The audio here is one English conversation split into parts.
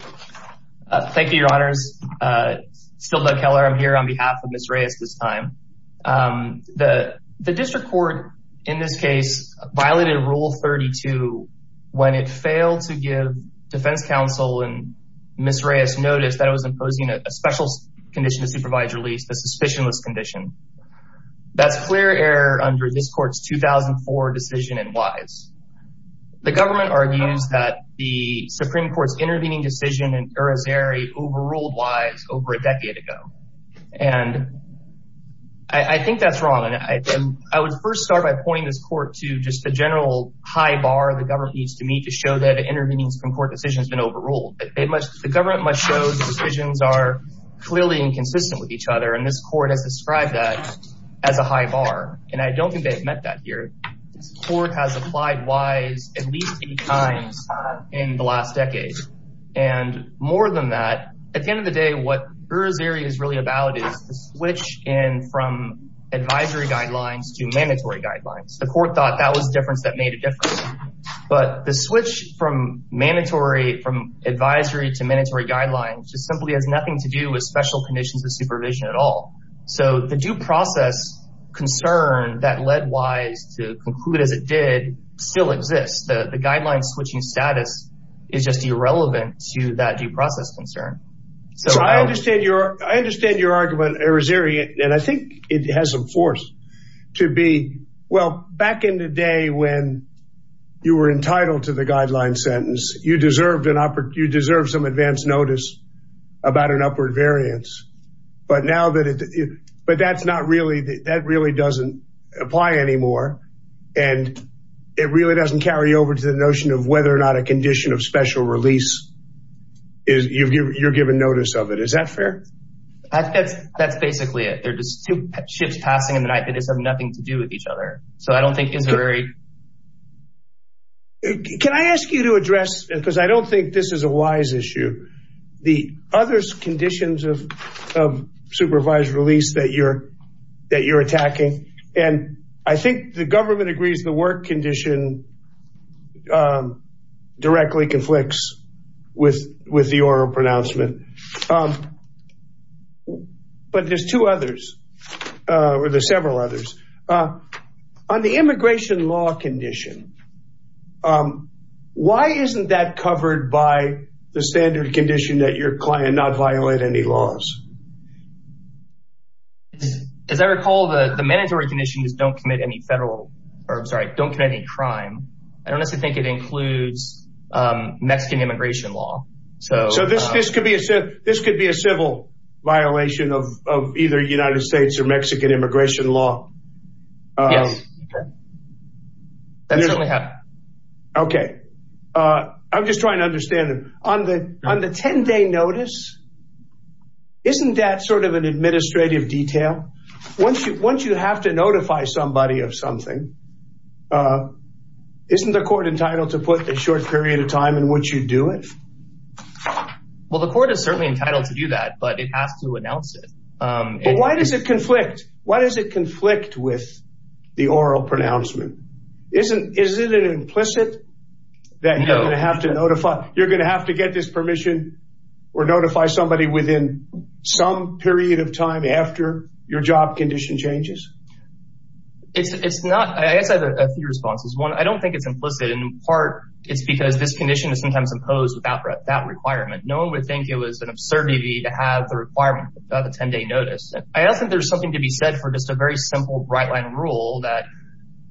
Thank you, your honors. Still Doug Keller. I'm here on behalf of Ms. Reyes this time. The district court in this case violated rule 32 when it failed to give defense counsel and Ms. Reyes notice that it was imposing a special condition to supervise release, the suspicionless condition. That's clear error under this court's 2004 decision and wise. The government argues that the Supreme Court's intervening decision in Curazeri overruled wise over a decade ago. And I think that's wrong. And I would first start by pointing this court to just the general high bar the government needs to meet to show that intervening from court decisions been overruled. It must the government must show the decisions are clearly inconsistent with each other. And this court has described that as a high bar. And I don't think they've at least eight times in the last decade. And more than that, at the end of the day, what Curazeri is really about is to switch in from advisory guidelines to mandatory guidelines. The court thought that was the difference that made a difference. But the switch from mandatory from advisory to mandatory guidelines just simply has nothing to do with special conditions of still exist. The guidelines switching status is just irrelevant to that due process concern. So I understand your argument, Curazeri, and I think it has some force to be well, back in the day when you were entitled to the guideline sentence, you deserve some advanced notice about an upward variance. But now that it but that's not really that really doesn't apply anymore. And it really doesn't carry over to the notion of whether or not a condition of special release is you've you're given notice of it. Is that fair? I think that's that's basically it. They're just two ships passing in the night. They just have nothing to do with each other. So I don't think it's very. Can I ask you to address because I don't think this is a wise I think the government agrees the work condition directly conflicts with with the oral pronouncement. But there's two others, or there's several others on the immigration law condition. Why isn't that covered by the standard condition that your client not violate any laws? As I recall, the mandatory condition is don't commit any federal or sorry, don't commit any crime. I don't necessarily think it includes Mexican immigration law. So this could be a civil violation of either United States or Mexican immigration law. Yes, that certainly happened. Okay. I'm just trying to understand on the on the 10 day notice. Isn't that sort of an administrative detail? Once you once you have to notify somebody of something, isn't the court entitled to put a short period of time in which you do it? Well, the court is certainly entitled to do that, but it has to announce it. Why does it conflict? Why does it conflict with the oral pronouncement? Isn't is it an implicit that you have to notify you're going to have to get this permission or notify somebody within some period of time after your job condition changes? It's not. I guess I have a few responses. One, I don't think it's implicit. In part, it's because this condition is sometimes imposed without that requirement. No one would think it was an absurdity to have the requirement of a 10 day notice. I don't think there's something to be said for just a very simple right line rule that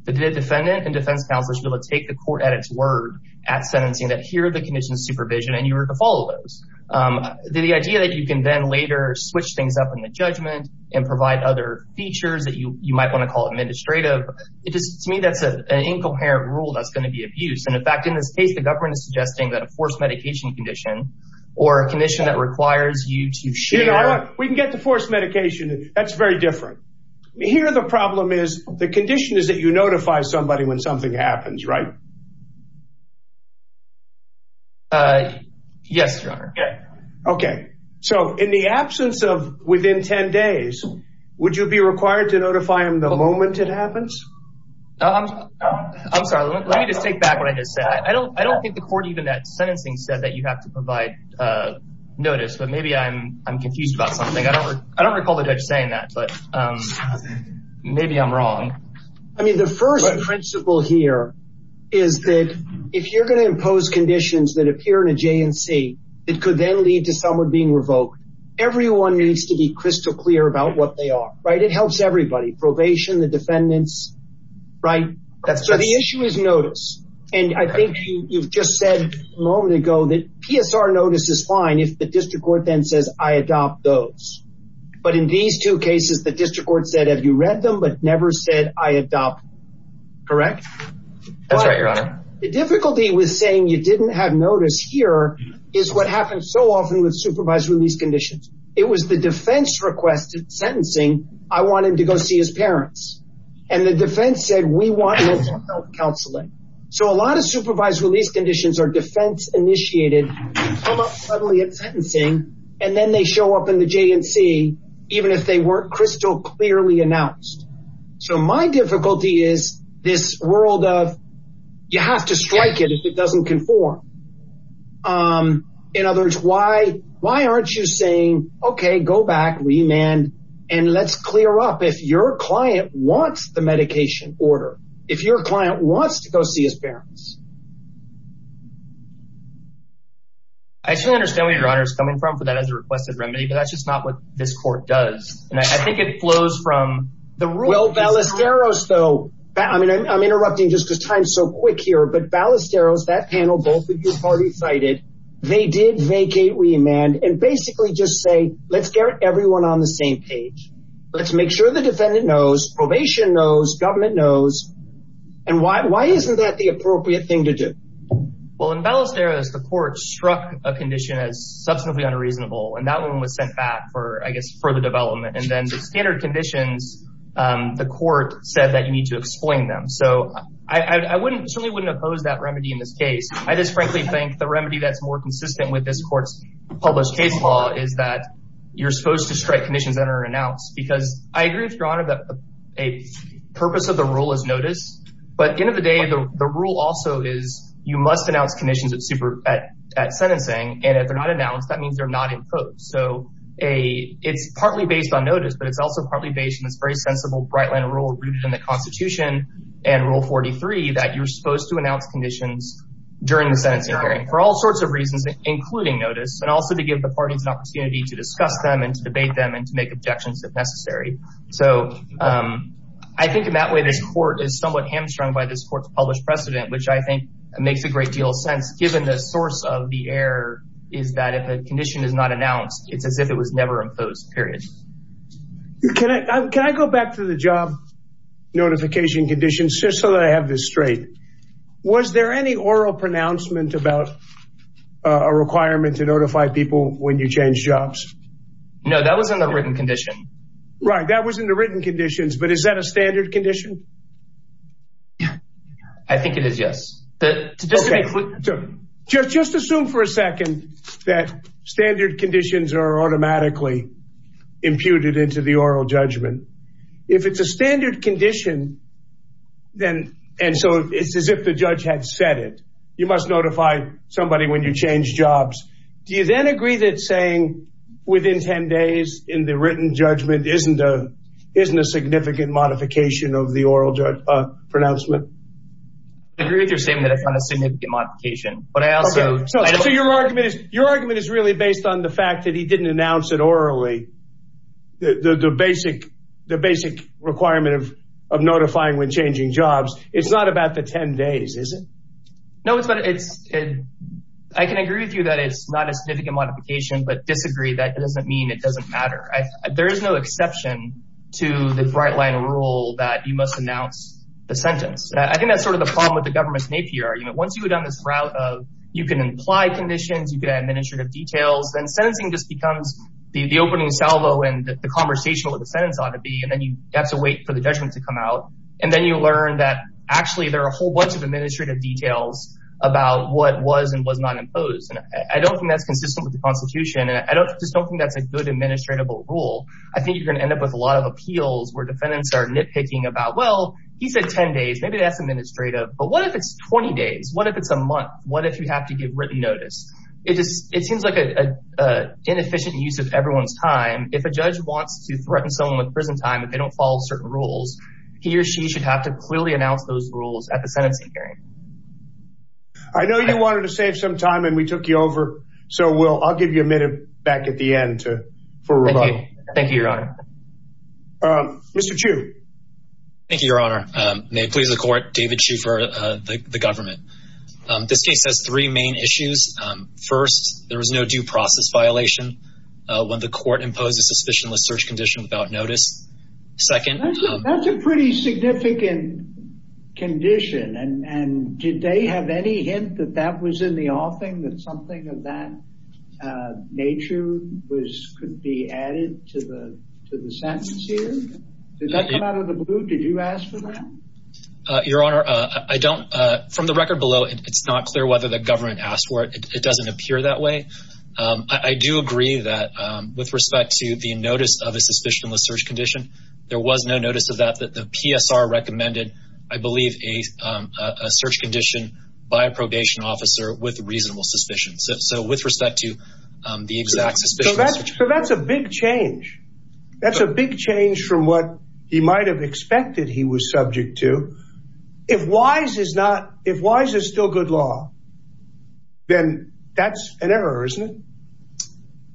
the defendant and defense counsel should be able to take the court at its word at sentencing that here are the conditions supervision and you were to follow those. The idea that you can then later switch things up in the judgment and provide other features that you you might want to call administrative. It just to me, that's an incoherent rule that's going to be abused. And in fact, in this case, the government is suggesting that a forced medication condition or a condition that requires you to share. We can get the forced medication. That's very different here. The problem is the condition is that you notify somebody when something happens, right? Yes, your honor. Okay. So in the absence of within 10 days, would you be required to notify him the moment it happens? I'm sorry. Let me just take back what I just said. I don't think the court even that sentencing said that you have to provide notice, but maybe I'm confused about something. I don't recall the judge saying that, but maybe I'm wrong. I mean, the first principle here is that if you're going to impose conditions that appear in a JNC, it could then lead to someone being revoked. Everyone needs to be crystal clear about what they are, right? It helps everybody. Probation, the defendants, right? So the issue is notice. And I think you've just said a moment ago that PSR notice is fine if the district court then says, I adopt those. But in these two cases, the district court said, have you read them, but never said I adopt, correct? That's right, your honor. The difficulty with saying you didn't have notice here is what happens so often with supervised release conditions. It was the defense requested sentencing. I want him to go see his parents. And the defense said, we want counseling. So a lot of supervised release conditions are defense initiated, come up suddenly at sentencing, and then they show up in the JNC, even if they weren't crystal clearly announced. So my difficulty is this world of, you have to strike it if it doesn't conform. In other words, why aren't you saying, okay, go back, remand, and let's clear up if your client wants the medication order, if your client wants to go see his parents. I actually understand where your honor is coming from for that as a requested remedy, but that's just not what this court does. And I think it flows from the rule. Well, Ballesteros though, I mean, I'm interrupting just because time's so quick here, but Ballesteros, that panel, both of your parties cited, they did vacate remand and basically just say, let's get everyone on the same page. Let's make sure the defendant knows, probation knows, government knows. And why isn't that the appropriate thing to do? Well, in Ballesteros, the court struck a condition as substantively unreasonable, and that one was sent back for, I guess, further development. And then the standard conditions, the court said that you need to explain them. So I wouldn't, certainly wouldn't oppose that remedy in this case. I just frankly think the remedy that's more consistent with this court's published case law is that you're supposed to strike conditions that are announced because I agree with your honor that the purpose of the rule is notice, but at the end of the day, the rule also is you must announce conditions at sentencing. And if they're not announced, that means they're not imposed. So it's partly based on notice, but it's also partly based on this very sensible Bright Line rule rooted in the constitution and rule 43 that you're supposed to announce conditions during the sentencing hearing for all sorts of reasons, including notice, and also to give the parties an opportunity to discuss them and to debate them and to make objections if they're not. So I think in that way, this court is somewhat hamstrung by this court's published precedent, which I think makes a great deal of sense given the source of the error is that if a condition is not announced, it's as if it was never imposed, period. Can I go back to the job notification conditions just so that I have this straight? Was there any oral pronouncement about a requirement to notify people when you change jobs? No, that was in the written condition. Right, that was in the written conditions, but is that a standard condition? I think it is, yes. Just assume for a second that standard conditions are automatically imputed into the oral judgment. If it's a standard condition, then, and so it's as if the judge had said it, you must notify somebody when you change jobs. Do you then agree that saying within 10 days in the written judgment isn't a significant modification of the oral pronouncement? I agree with your statement that it's not a significant modification, but I also... So your argument is really based on the fact that he didn't announce it orally, the basic requirement of notifying when changing jobs. It's not about the 10 days, is it? No, but I can agree with you that it's not a significant modification, but disagree, that doesn't mean it doesn't matter. There is no exception to the bright line rule that you must announce the sentence. I think that's sort of the problem with the government's NAPI argument. Once you've done this route of, you can imply conditions, you can have administrative details, then sentencing just becomes the opening salvo and the conversational of the sentence ought to be, and then you have to wait for the judgment to come out. And then you learn that actually there are a whole bunch of administrative details about what was and was not imposed. And I don't think that's consistent with the constitution. And I just don't think that's a good administratable rule. I think you're going to end up with a lot of appeals where defendants are nitpicking about, well, he said 10 days, maybe that's administrative, but what if it's 20 days? What if it's a month? What if you have to give written notice? It seems like an inefficient use of everyone's time. If a judge wants to threaten someone with prison time, if they don't follow certain rules, he or she should have to clearly announce those rules at the sentencing hearing. I know you wanted to save some time and we took you over. So I'll give you a minute back at the end for rebuttal. Thank you, Your Honor. Mr. Chiu. Thank you, Your Honor. May it please the court, David Chiu for the government. This case has three main issues. First, there was no due process violation when the court imposed a suspicionless search condition without notice. Second- That's a pretty significant condition. And did they have any hint that that was in the offing, that something of that nature could be added to the sentence here? Did that come out of the blue? Did you ask for that? Your Honor, from the record below, it's not clear whether the government asked for it. It doesn't appear that way. I do agree that with respect to the notice of a suspicionless search condition, there was no notice of that. The PSR recommended, I believe, a search condition by a probation officer with reasonable suspicion. So with respect to the exact suspicion- So that's a big change. That's a big change from what he might have expected he was subject to. If Wise is still good law, then that's an error, isn't it?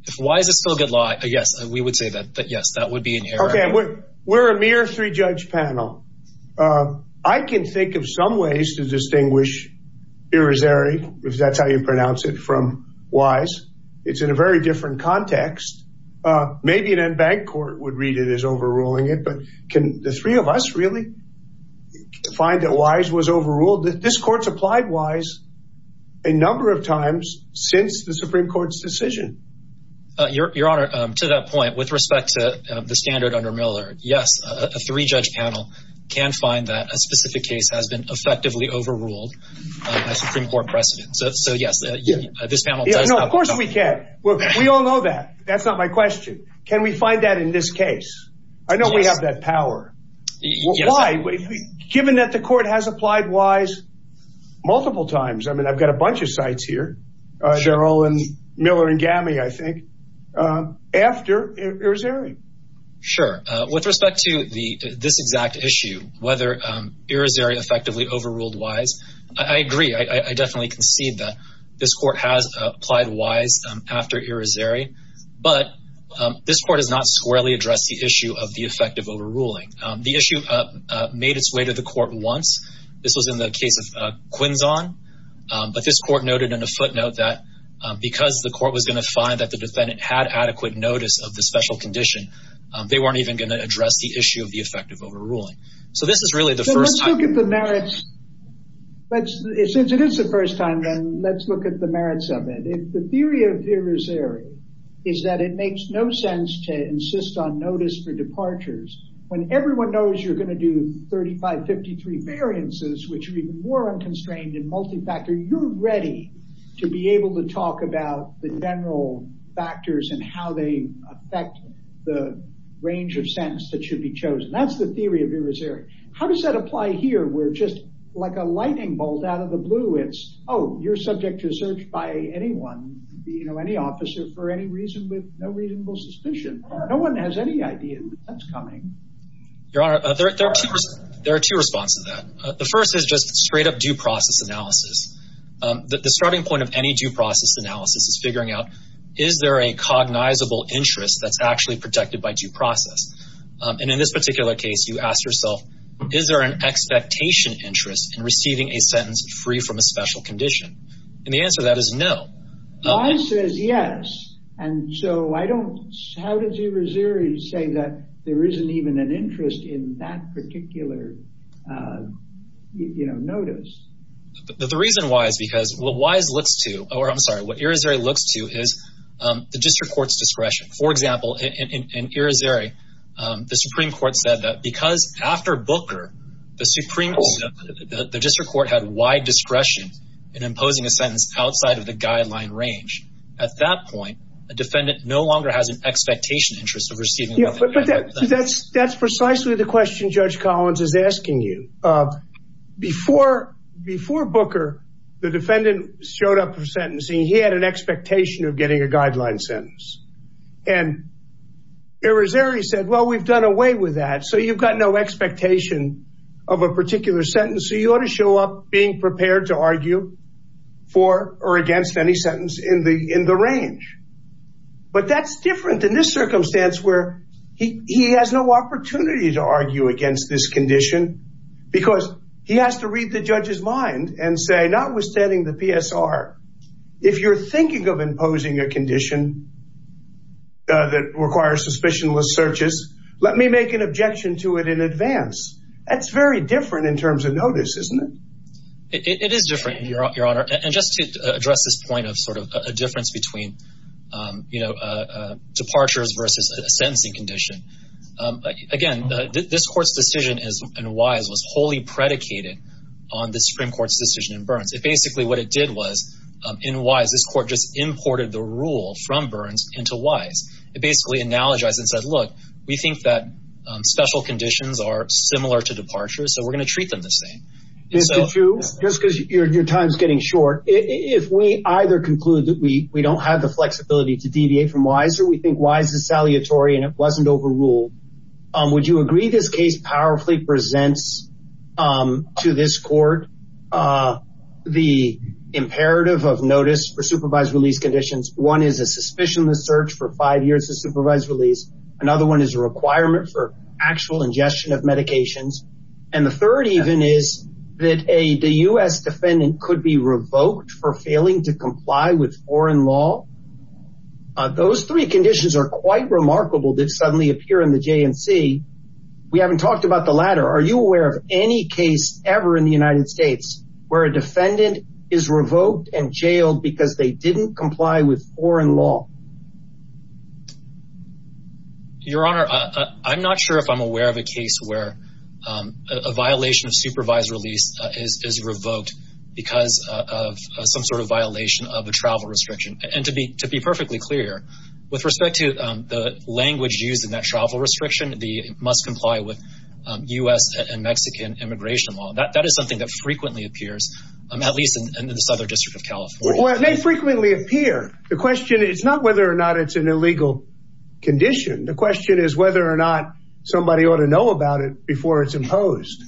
If Wise is still good law, yes, we would say that. But yes, that would be inherent. Okay. We're a mere three-judge panel. I can think of some ways to distinguish Pirozeri, if that's how you pronounce it, from Wise. It's in a very different context. Maybe an en banc court would read it as overruling it, but can the three of us really find that Wise was overruled? This court's applied Wise a number of times since the Supreme Court's decision. Your Honor, to that point, with respect to the standard under Miller, yes, a three-judge panel can find that a specific case has been effectively overruled by a Supreme Court precedent. So yes, this panel does- Of course we can. We all know that. That's not my question. Can we find that in this case? I know we have that power. Why? Given that the court has applied Wise multiple times, I mean, I've got a bunch of sites here, Cheryl and Miller and Gammy, I think, after Pirozeri. Sure. With respect to this exact issue, whether I definitely concede that this court has applied Wise after Pirozeri, but this court has not squarely addressed the issue of the effect of overruling. The issue made its way to the court once. This was in the case of Quinzon, but this court noted in a footnote that because the court was going to find that the defendant had adequate notice of the special condition, they weren't even going to address the issue of the effect of overruling. So this is really the first time- But since it is the first time, then let's look at the merits of it. If the theory of Pirozeri is that it makes no sense to insist on notice for departures when everyone knows you're going to do 3553 variances, which are even more unconstrained and multi-factor, you're ready to be able to talk about the general factors and how they affect the range of sentence that should be chosen. That's the theory of Pirozeri. How does that apply here where just like a lightning bolt out of the blue, it's, oh, you're subject to search by anyone, you know, any officer for any reason with no reasonable suspicion. No one has any idea that that's coming. Your Honor, there are two responses to that. The first is just straight up due process analysis. The starting point of any due process analysis is figuring out, is there a cognizable interest that's actually protected by due process? And in this particular case, you asked yourself, is there an expectation interest in receiving a sentence free from a special condition? And the answer to that is no. Wise says yes. And so I don't, how does Pirozeri say that there isn't even an interest in that particular, you know, notice? The reason why is because what Wise looks to, or I'm sorry, what Pirozeri looks to is the district court's discretion. For example, in Pirozeri, the Supreme Court said that because after Booker, the district court had wide discretion in imposing a sentence outside of the guideline range. At that point, a defendant no longer has an expectation interest of receiving. That's precisely the question Judge Collins is asking you. Before Booker, the defendant showed up for sentencing, he had an expectation of getting a guideline sentence. And Pirozeri said, well, we've done away with that. So you've got no expectation of a particular sentence. So you ought to show up being prepared to argue for or against any sentence in the range. But that's different in this circumstance where he has no opportunity to argue against this If you're thinking of imposing a condition that requires suspicionless searches, let me make an objection to it in advance. That's very different in terms of notice, isn't it? It is different, Your Honor. And just to address this point of sort of a difference between, you know, departures versus a sentencing condition. Again, this court's decision is, and Wise was wholly predicated on the Supreme Court's decision in Burns. It basically, what it did was, in Wise, this court just imported the rule from Burns into Wise. It basically analogized and said, look, we think that special conditions are similar to departure. So we're going to treat them the same. Mr. Chiu, just because your time is getting short. If we either conclude that we don't have the flexibility to deviate from Wise or we think Wise is saliatory and it wasn't overruled, would you agree this case powerfully presents to this court the imperative of notice for supervised release conditions? One is a suspicionless search for five years of supervised release. Another one is a requirement for actual ingestion of medications. And the third even is that a U.S. defendant could be revoked for failing to comply with foreign law. Those three conditions are quite remarkable. They suddenly appear in the J&C. We haven't talked about the latter. Are you aware of any case ever in the United States where a defendant is revoked and jailed because they didn't comply with foreign law? Your Honor, I'm not sure if I'm aware of a case where a violation of supervised release is revoked because of some sort of violation of a travel restriction. And to be perfectly clear, with respect to the language used in that travel restriction, they must comply with U.S. and Mexican immigration law. That is something that frequently appears, at least in the Southern District of California. Well, it may frequently appear. The question is not whether or not it's an illegal condition. The question is whether or not somebody ought to know about it before it's imposed.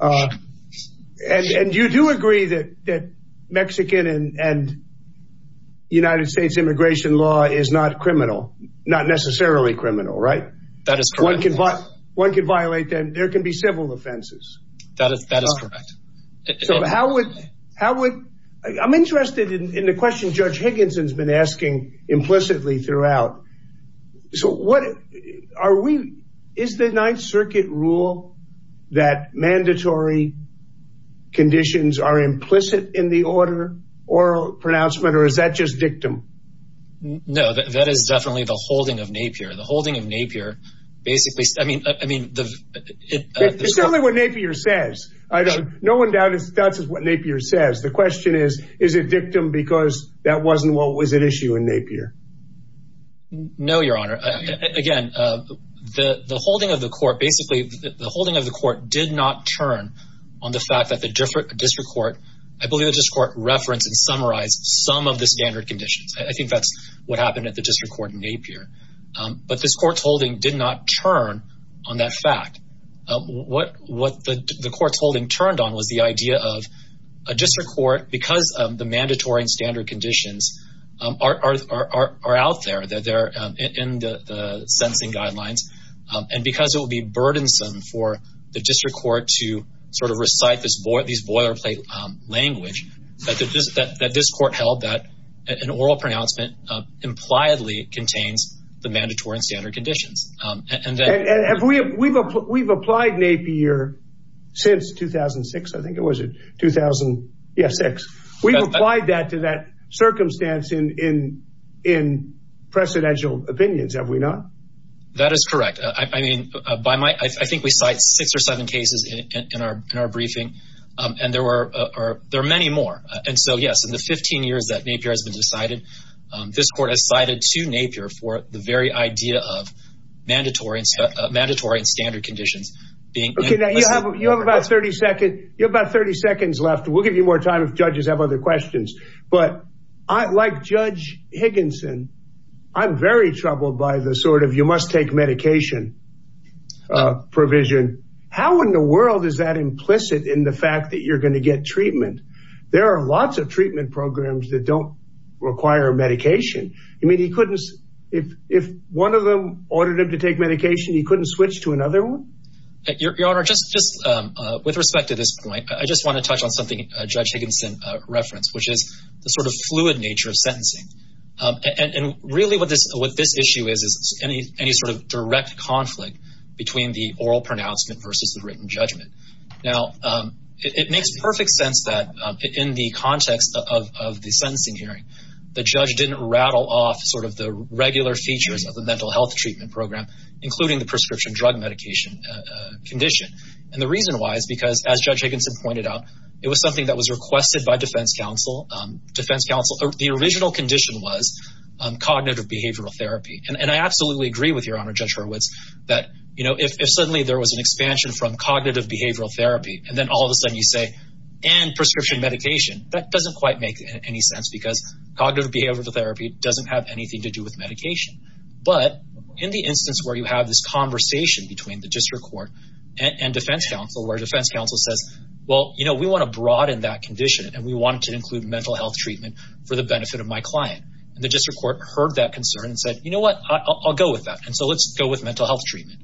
And you do agree that Mexican and United States immigration law is not necessarily criminal, right? That is correct. One can violate them. There can be civil offenses. That is correct. I'm interested in the question Judge Higginson's been asking implicitly throughout. Is the Ninth Circuit rule that mandatory conditions are implicit in the order or pronouncement, or is that just dictum? No, that is definitely the holding of Napier. The holding of Napier basically, I mean, It's definitely what Napier says. No one doubts what Napier says. The question is, is it dictum because that wasn't what was at issue in Napier? No, Your Honor. Again, the holding of the court basically, the holding of the court did not turn on the fact that the district court, I believe the district court referenced and summarized some of the standard conditions. I think that's what happened at the district court in Napier. But this court's holding did not turn on that fact. What the court's holding turned on was the idea of a district court, because of the mandatory and standard conditions are out there, that they're in the sentencing guidelines, and because it would be burdensome for the district court to sort of recite these boilerplate language, that this court held that an oral pronouncement impliedly contains the mandatory and standard conditions. And we've applied Napier since 2006, I think it was it, 2006. We've applied that to that circumstance in precedential opinions, have we not? That is correct. I mean, by my, I think we cite six or seven cases in our briefing, and there are many more. And so yes, in the 15 years that Napier has been decided, this court has cited to Napier for the very idea of mandatory and standard conditions being- Okay, now you have about 30 seconds left. We'll give you more time if judges have other questions. But like Judge Higginson, I'm very troubled by the sort of, you must take medication provision. How in the world is that implicit in the fact that you're going to get treatment? There are lots of treatment programs that don't require medication. I mean, he couldn't, if one of them ordered him to take medication, he couldn't switch to another one? Your Honor, just with respect to this point, I just want to touch on something Judge Higginson referenced, which is the sort of fluid nature of sentencing. And really what this issue is, is any sort of direct conflict between the oral pronouncement versus the written judgment. Now, it makes perfect sense that in the context of the sentencing hearing, the judge didn't rattle off sort of the regular features of the mental health treatment program, including the prescription drug medication condition. And the reason why is because, as Judge Higginson pointed out, it was something that was requested by defense counsel. The original condition was cognitive behavioral therapy. And I absolutely agree with Your Honor, Judge Hurwitz, that if suddenly there was an expansion from cognitive behavioral therapy, and then all of a sudden you say, and prescription medication, that doesn't quite make any sense because cognitive behavioral therapy doesn't have anything to do with medication. But in the instance where you have this conversation between the district court and defense counsel, where defense counsel says, well, you know, we want to broaden that condition and we want to include mental health treatment for the benefit of my client. And the district court heard that concern and said, you know what, I'll go with that. And so let's go with mental health treatment.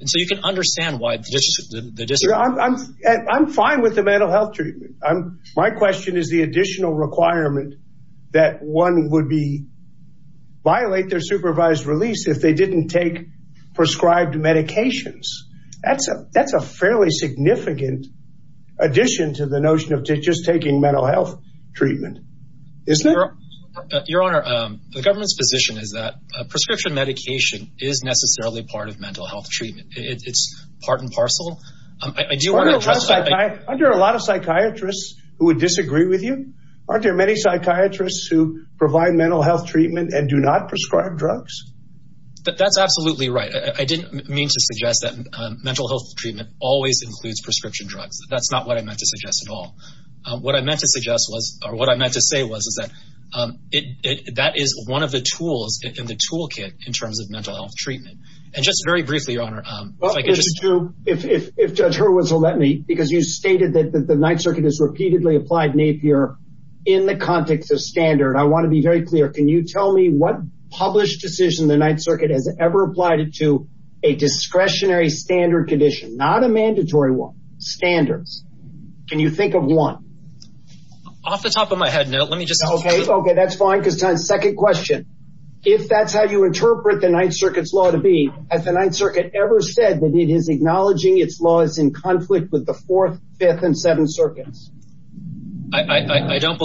And so you can understand why the district court... I'm fine with the mental health treatment. My question is the additional requirement that one would violate their supervised release if they didn't take prescribed medications. That's a fairly significant addition to the notion of just taking mental health treatment, isn't it? Your Honor, the government's position is that prescription medication is necessarily part of mental health treatment. It's part and parcel. Under a lot of psychiatrists who would disagree with you, aren't there many psychiatrists who provide mental health treatment and do not prescribe drugs? That's absolutely right. I didn't mean to suggest that mental health treatment always includes prescription drugs. That's not what I meant to suggest at all. What I meant to suggest was, or what I meant to say was, is that that is one of the tools in the toolkit in terms of mental health treatment. And just very briefly, Your Honor... Well, if Judge Hurwitz will let me, because you stated that the Ninth Circuit has repeatedly applied NAPIER in the context of standard. I want to be very clear. Can you tell me what published decision the Ninth Circuit has ever applied it to? A discretionary standard condition, not a mandatory one. Standards. Can you think of one? Off the top of my head, no. Let me just... Okay. Okay. That's fine. Because second question, if that's how you interpret the Ninth Circuit's law to be, has the Ninth Circuit ever said that it is acknowledging its laws in conflict with the Fourth, Fifth, and Seventh Circuits? I don't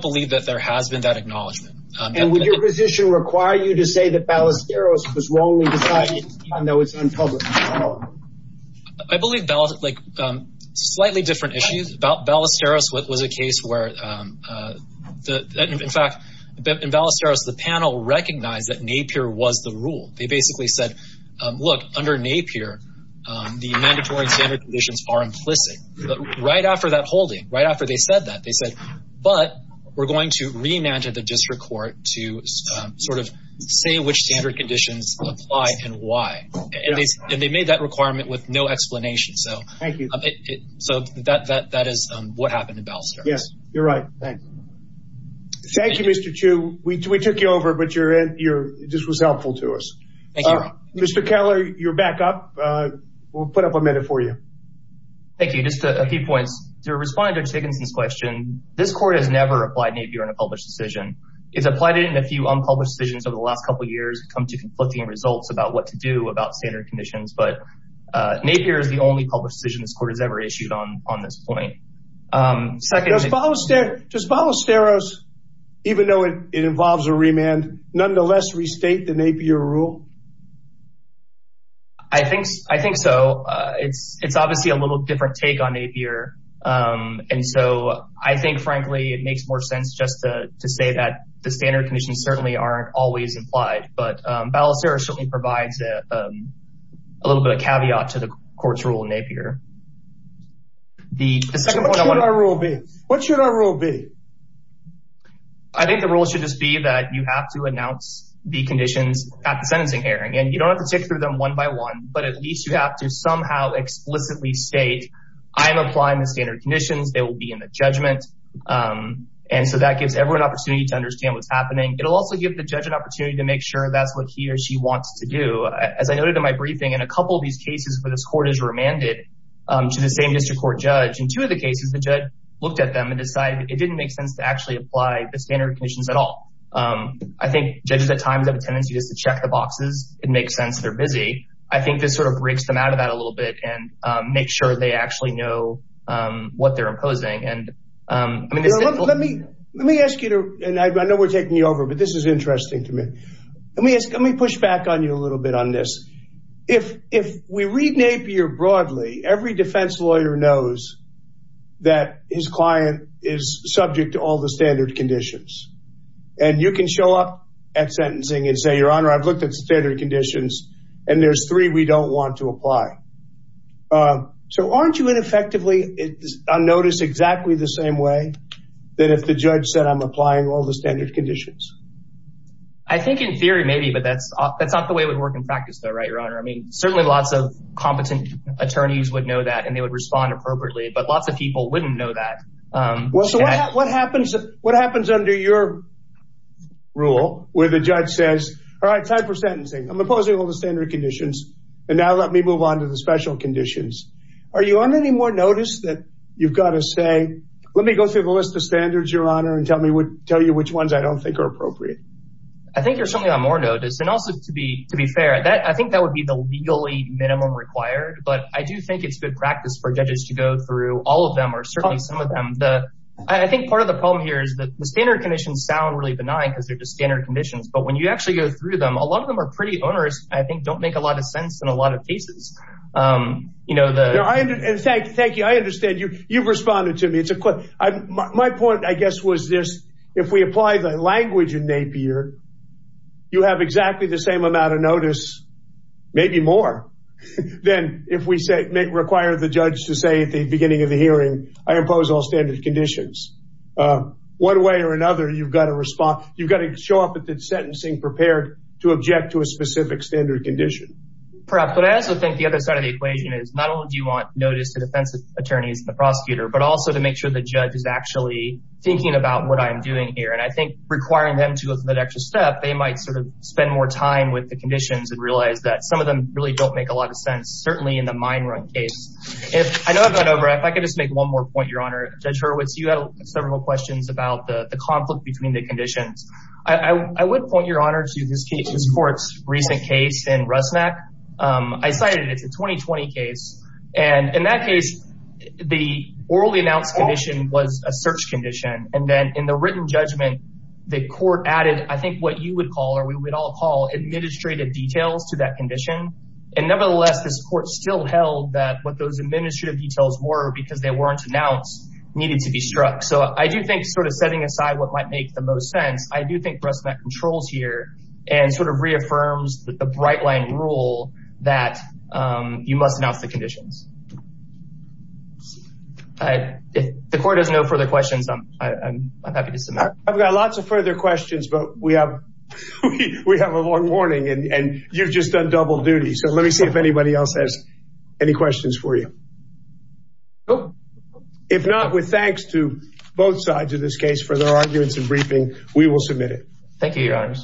believe that there has been that acknowledgement. And would your position require you to say that Ballesteros was wrongly decided even though it's unpublished? I believe, like, slightly different issues. Ballesteros was a case where, in fact, in Ballesteros, the panel recognized that NAPIER was the rule. They basically said, look, under NAPIER, the mandatory and standard conditions are implicit. But right after that holding, right after they said that, they said, but we're going to remand to the district court to sort of say which standard conditions apply and why. And they made that requirement with no explanation. So that is what happened in Ballesteros. Yes. You're right. Thanks. Thank you, Mr. Chu. We took you over, but this was helpful to us. Mr. Keller, you're back up. We'll put up a minute for you. Thank you. Just a few points. To respond to Chickenson's question, this court has never applied NAPIER on a published decision. It's applied it in a few unpublished decisions over the last couple of years, come to conflicting results about what to do about standard conditions. But NAPIER is the only published decision this court has ever issued on this point. Does Ballesteros, even though it involves a remand, nonetheless restate the NAPIER rule? I think so. It's obviously a little different take on NAPIER. And so I think, frankly, it makes more sense just to say that the standard conditions certainly aren't always implied. But Ballesteros certainly provides a little bit of caveat to the court's rule in NAPIER. What should our rule be? I think the rule should just be that you have to announce the conditions at the sentencing hearing. And you don't have to tick through them one by one, but at least you have to somehow explicitly state, I'm applying the standard conditions, they will be in the judgment. And so that gives everyone an opportunity to understand what's happening. It'll also give the judge an opportunity to make sure that's what he or she wants to do. As I noted in my briefing, in a couple of these cases where this court has remanded to the same district court judge, in two of the cases, the judge looked at them and decided it didn't make sense to actually apply the standard conditions at all. I think judges at times have a tendency just to check the boxes. It makes sense they're busy. I think this sort of breaks them out of that a little bit and make sure they actually know what they're imposing. I know we're taking you over, but this is interesting to me. Let me push back on you a little bit on this. If we read NAPIER broadly, every defense lawyer knows that his client is all the standard conditions. And you can show up at sentencing and say, Your Honor, I've looked at standard conditions, and there's three we don't want to apply. So aren't you ineffectively unnoticed exactly the same way that if the judge said, I'm applying all the standard conditions? I think in theory, maybe, but that's not the way it would work in practice though, right, Your Honor? I mean, certainly lots of competent attorneys would know that and they would respond appropriately, but lots of people wouldn't know that. Well, so what happens under your rule where the judge says, All right, time for sentencing, I'm imposing all the standard conditions, and now let me move on to the special conditions? Are you on any more notice that you've got to say, Let me go through the list of standards, Your Honor, and tell me which ones I don't think are appropriate? I think you're certainly on more notice. And also to be fair, I think that would be the legally minimum required, but I do think it's good practice for judges to go through all of them, certainly some of them. I think part of the problem here is that the standard conditions sound really benign because they're just standard conditions, but when you actually go through them, a lot of them are pretty onerous and I think don't make a lot of sense in a lot of cases. Thank you. I understand. You've responded to me. My point, I guess, was this, if we apply the language in Napier, you have exactly the same amount of notice, maybe more, than if we require the judge to say at the beginning of the hearing, I impose all standard conditions. One way or another, you've got to show up at the sentencing prepared to object to a specific standard condition. But I also think the other side of the equation is not only do you want notice to defense attorneys and the prosecutor, but also to make sure the judge is actually thinking about what I'm doing here. And I think requiring them to look at that extra step, they might spend more time with the conditions and realize that some of them really don't make a lot of sense, certainly in the mine run case. I know I've gone over, if I could just make one more point, Your Honor. Judge Hurwitz, you had several questions about the conflict between the conditions. I would point, Your Honor, to this court's recent case in Rusnak. I cited it. It's a 2020 case. And in that case, the orally announced condition was a search condition. And then in the written judgment, the court added, I think what you would call or we would all call administrative details to that condition. And nevertheless, this court still held that what those administrative details were, because they weren't announced, needed to be struck. So I do think sort of setting aside what might make the most sense, I do think Rusnak controls here and sort of reaffirms the bright line rule that you must announce the conditions. If the court has no further questions, I'm happy to submit. I've got lots of further questions, but we have a long morning and you've just done double duty. So let me see if anybody else has any questions for you. If not, with thanks to both sides of this case for their arguments and briefing, we will submit it. Thank you, Your Honor.